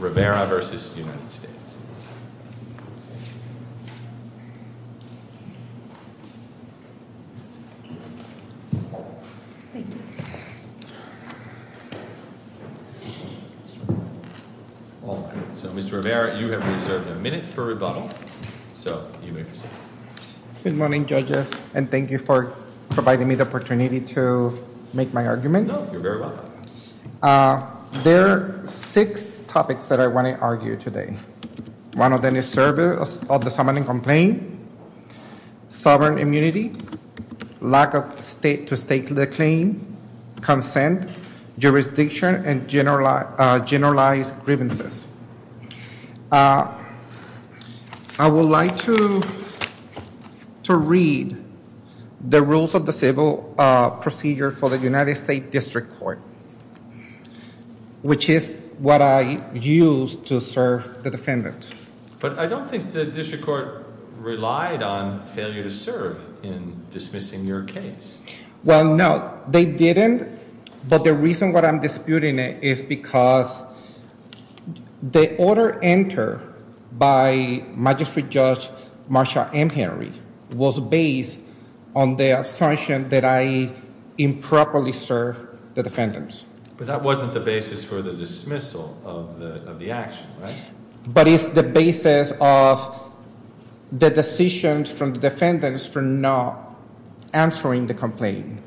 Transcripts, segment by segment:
Rivera v. United States. Mr. Rivera, you have a minute for rebuttal. Good morning, judges, and thank you for providing me the opportunity to make my argument. There are six topics that I want to argue today. One of them is service of the summoning complaint, sovereign immunity, lack of state-to-state claim, consent, jurisdiction, and generalized grievances. I would like to read the rules of the civil procedure for the United States District Court, which is what I used to serve the defendant. But I don't think the District Court relied on failure to serve in dismissing your case. Well, no, they didn't, but the reason why I'm disputing it is because the order entered by Magistrate Judge Marsha M. Henry was based on the assumption that I improperly served the defendant. But that wasn't the basis for the dismissal of the action, right? But it's the basis of the decisions from the defendants for not answering the complaint.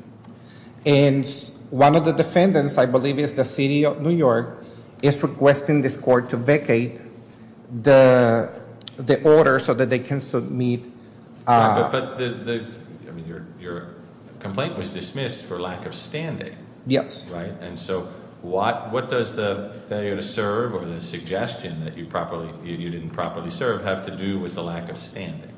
One of the defendants, I believe it's the city of New York, is requesting this court to vacate the order so that they can submit... But your complaint was dismissed for lack of standing, right? And so what does the failure to serve or the suggestion that you didn't properly serve have to do with the lack of standing?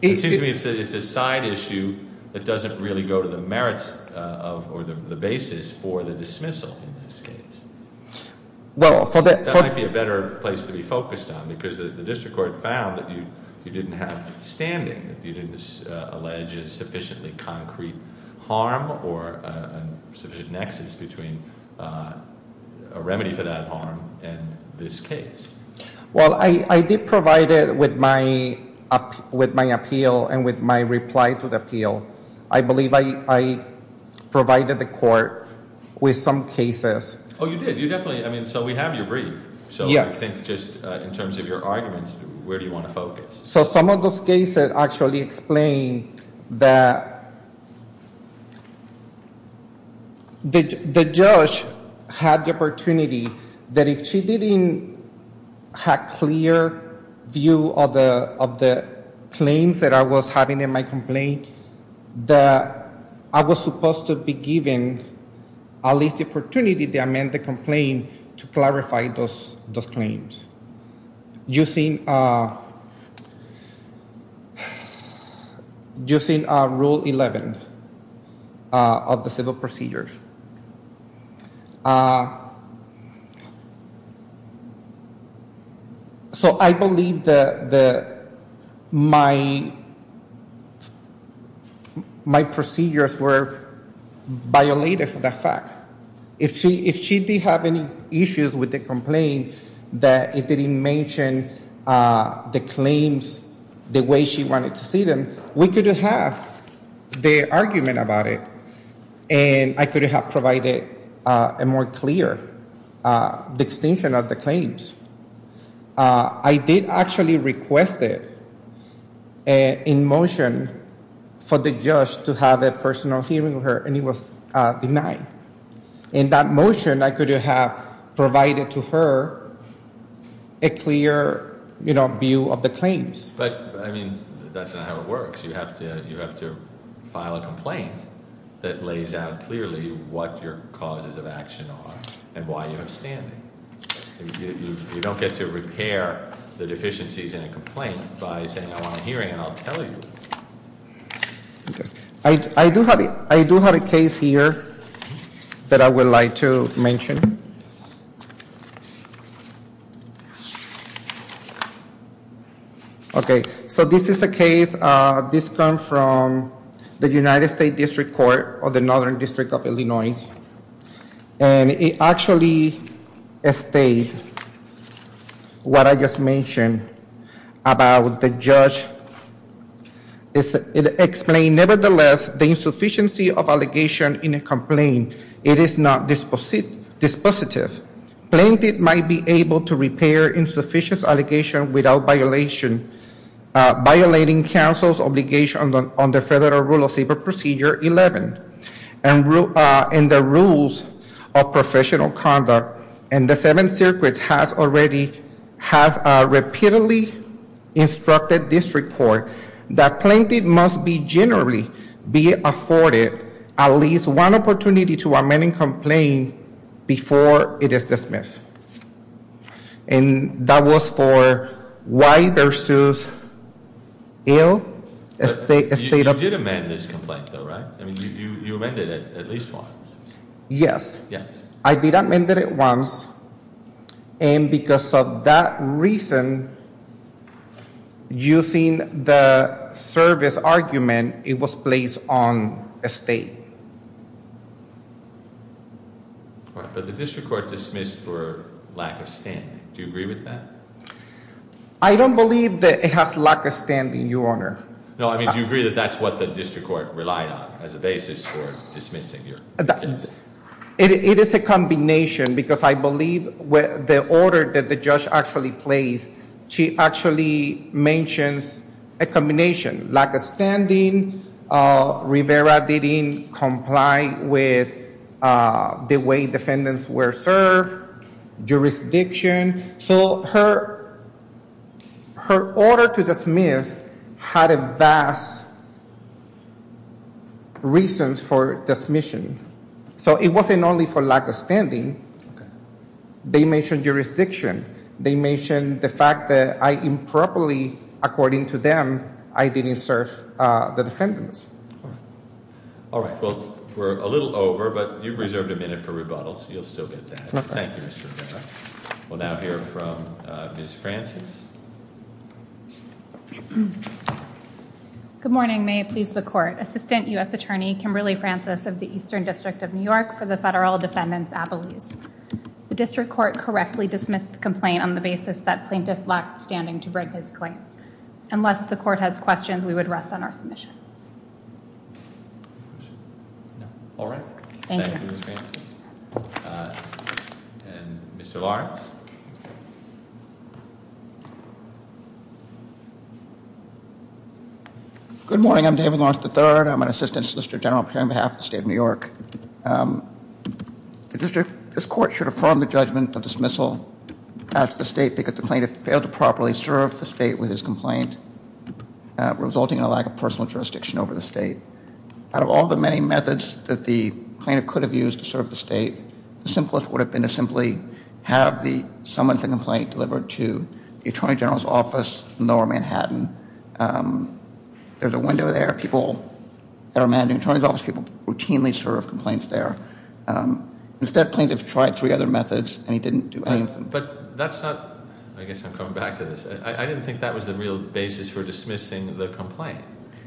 It seems to me it's a side issue that doesn't really go to the merits or the basis for the dismissal in this case. Well, for the... That might be a better place to be focused on because the district court found that you didn't have standing, that you didn't allege a sufficiently concrete harm or a sufficient nexus between a remedy for that harm and this case. Well, I did provide it with my appeal and with my reply to the appeal. I believe I provided the court with some cases. Oh, you did. You definitely... I mean, so we have your brief. Yes. And I think just in terms of your arguments, where do you want to focus? So some of those cases actually explain that the judge had the opportunity that if she didn't have clear view of the claims that I was having in my complaint, that I was supposed to be given at least the opportunity to amend the complaint to clarify those claims using Rule 11 of the civil procedures. So I believe that my procedures were violated for that fact. If she did have any issues with the complaint that it didn't mention the claims the way she wanted to see them, we could have the argument about it and I could have provided a more clear distinction of the claims. I did actually request it in motion for the judge to have a personal hearing with her and it was denied. In that motion, I could have provided to her a clear view of the claims. But, I mean, that's not how it works. You have to file a complaint that lays out clearly what your causes of action are and why you have standing. You don't get to repair the deficiencies in a complaint by saying, I want a hearing and I'll tell you. I do have a case here that I would like to mention. Okay, so this is a case, this comes from the United State District Court of the Northern District of Illinois and it actually states what I just mentioned about the judge. It explained, nevertheless, the insufficiency of allegation in a complaint, it is not dispositive. Plaintiff might be able to repair insufficient allegations without violating counsel's obligation on the Federal Rule of Saber Procedure 11 and the rules of professional conduct and the Seventh Circuit repeatedly instructed this report that plaintiff must be generally be afforded at least one opportunity to amend a complaint before it is dismissed. And that was for white versus ill. You did amend this complaint though, right? I mean, you amended it at least once. Yes. Yes. I did amend it once and because of that reason, using the service argument, it was placed on estate. All right, but the district court dismissed for lack of standing. Do you agree with that? I don't believe that it has lack of standing, Your Honor. No, I mean, do you agree that that's what the district court relied on as a basis for dismissing your case? It is a combination because I believe the order that the judge actually placed, she actually mentions a combination. Lack of standing, Rivera didn't comply with the way defendants were served, jurisdiction. So her order to dismiss had a vast reason for dismissing. So it wasn't only for lack of standing. They mentioned jurisdiction. They mentioned the fact that I improperly, according to them, I didn't serve the defendants. All right. Well, we're a little over, but you've reserved a minute for rebuttals. You'll still get that. Thank you, Mr. Rivera. We'll now hear from Ms. Francis. Good morning. May it please the court. Assistant U.S. Attorney, Kimberly Francis of the Eastern District of New York for the Federal Defendant's Appellees. The district court correctly dismissed the complaint on the basis that plaintiff lacked standing to break his claims. Unless the court has questions, we would rest on our submission. All right. Thank you, Ms. Francis. And Mr. Lawrence. Good morning. I'm David Lawrence III. I'm an assistant solicitor general here on behalf of the state of New York. This court should affirm the judgment of dismissal at the state because the plaintiff failed to properly serve the state with his complaint, resulting in a lack of personal jurisdiction over the state. Out of all the many methods that the plaintiff could have used to serve the state, the simplest would have been to simply have the plaintiff delivered to the attorney general's office in lower Manhattan. There's a window there. People that are managing the attorney's office routinely serve complaints there. Instead, the plaintiff tried three other methods and he didn't do any of them. But that's not... I guess I'm coming back to this. I didn't think that was the real basis for dismissing the complaint.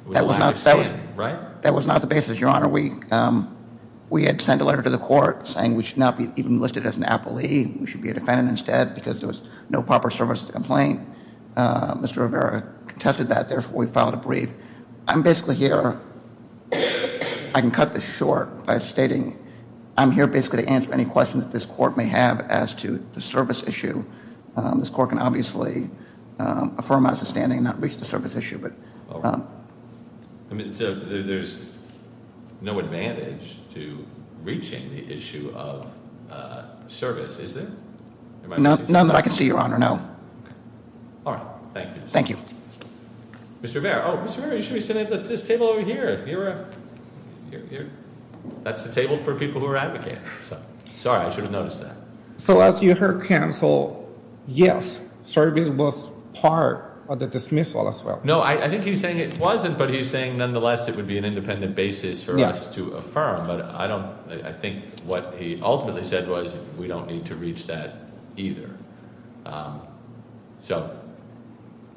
It was a lack of standing, right? That was not the basis, Your Honor. We had sent a letter to the court saying we should not be even listed as an appellee. We should be a defendant instead because there was no proper service to the complaint. Mr. Rivera contested that. Therefore, we filed a brief. I'm basically here... I can cut this short by stating I'm here basically to answer any questions that this court may have as to the service issue. This court can obviously affirm my sustaining and not reach the service issue. But... There's no advantage to reaching the issue of service, is there? None that I can see, Your Honor. No. All right. Thank you. Thank you. Mr. Rivera. Oh, Mr. Rivera, you should be sitting at this table over here. That's a table for people who are advocates. Sorry. I should have noticed that. So as you heard, counsel, yes, service was part of the dismissal as well. No, I think he's saying it wasn't, but he's saying nonetheless it would be an independent basis for us to affirm. But I don't... I think what he ultimately said was we don't need to reach that either. So...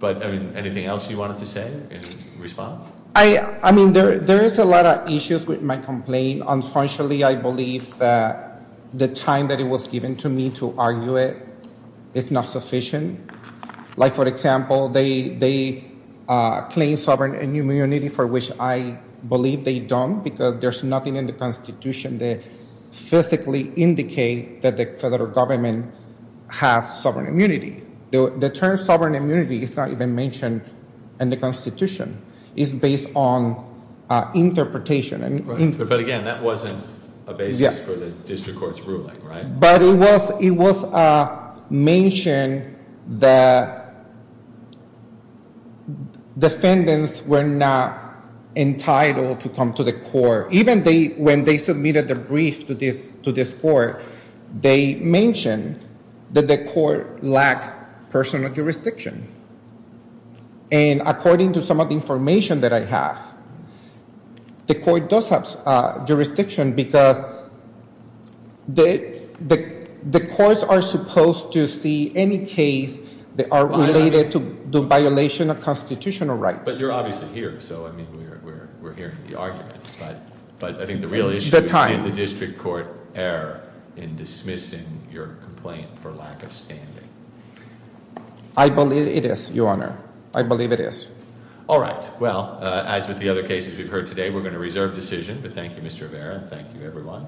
But, I mean, anything else you wanted to say in response? I mean, there is a lot of issues with my complaint. Unfortunately, I believe that the time that it was given to me to argue it is not sufficient. Like, for example, they claim sovereign inhumanity, for which I believe they don't because there's nothing in the Constitution that physically indicates that the federal government has sovereign immunity. The term sovereign immunity is not even mentioned in the Constitution. It's based on interpretation. But, again, that wasn't a basis for the district court's ruling, right? But it was mentioned that defendants were not entitled to come to the court. Even when they submitted their brief to this court, they mentioned that the court lacked personal jurisdiction. And according to some of the information that I have, the court does have jurisdiction because the courts are supposed to see any case that are related to the violation of constitutional rights. But you're obviously here. So, I mean, we're hearing the arguments. But I think the real issue is in the district court error in dismissing your complaint for lack of standing. I believe it is, Your Honor. I believe it is. All right. Well, as with the other cases we've heard today, we're going to reserve decision. But thank you, Mr. Rivera. Thank you, everyone.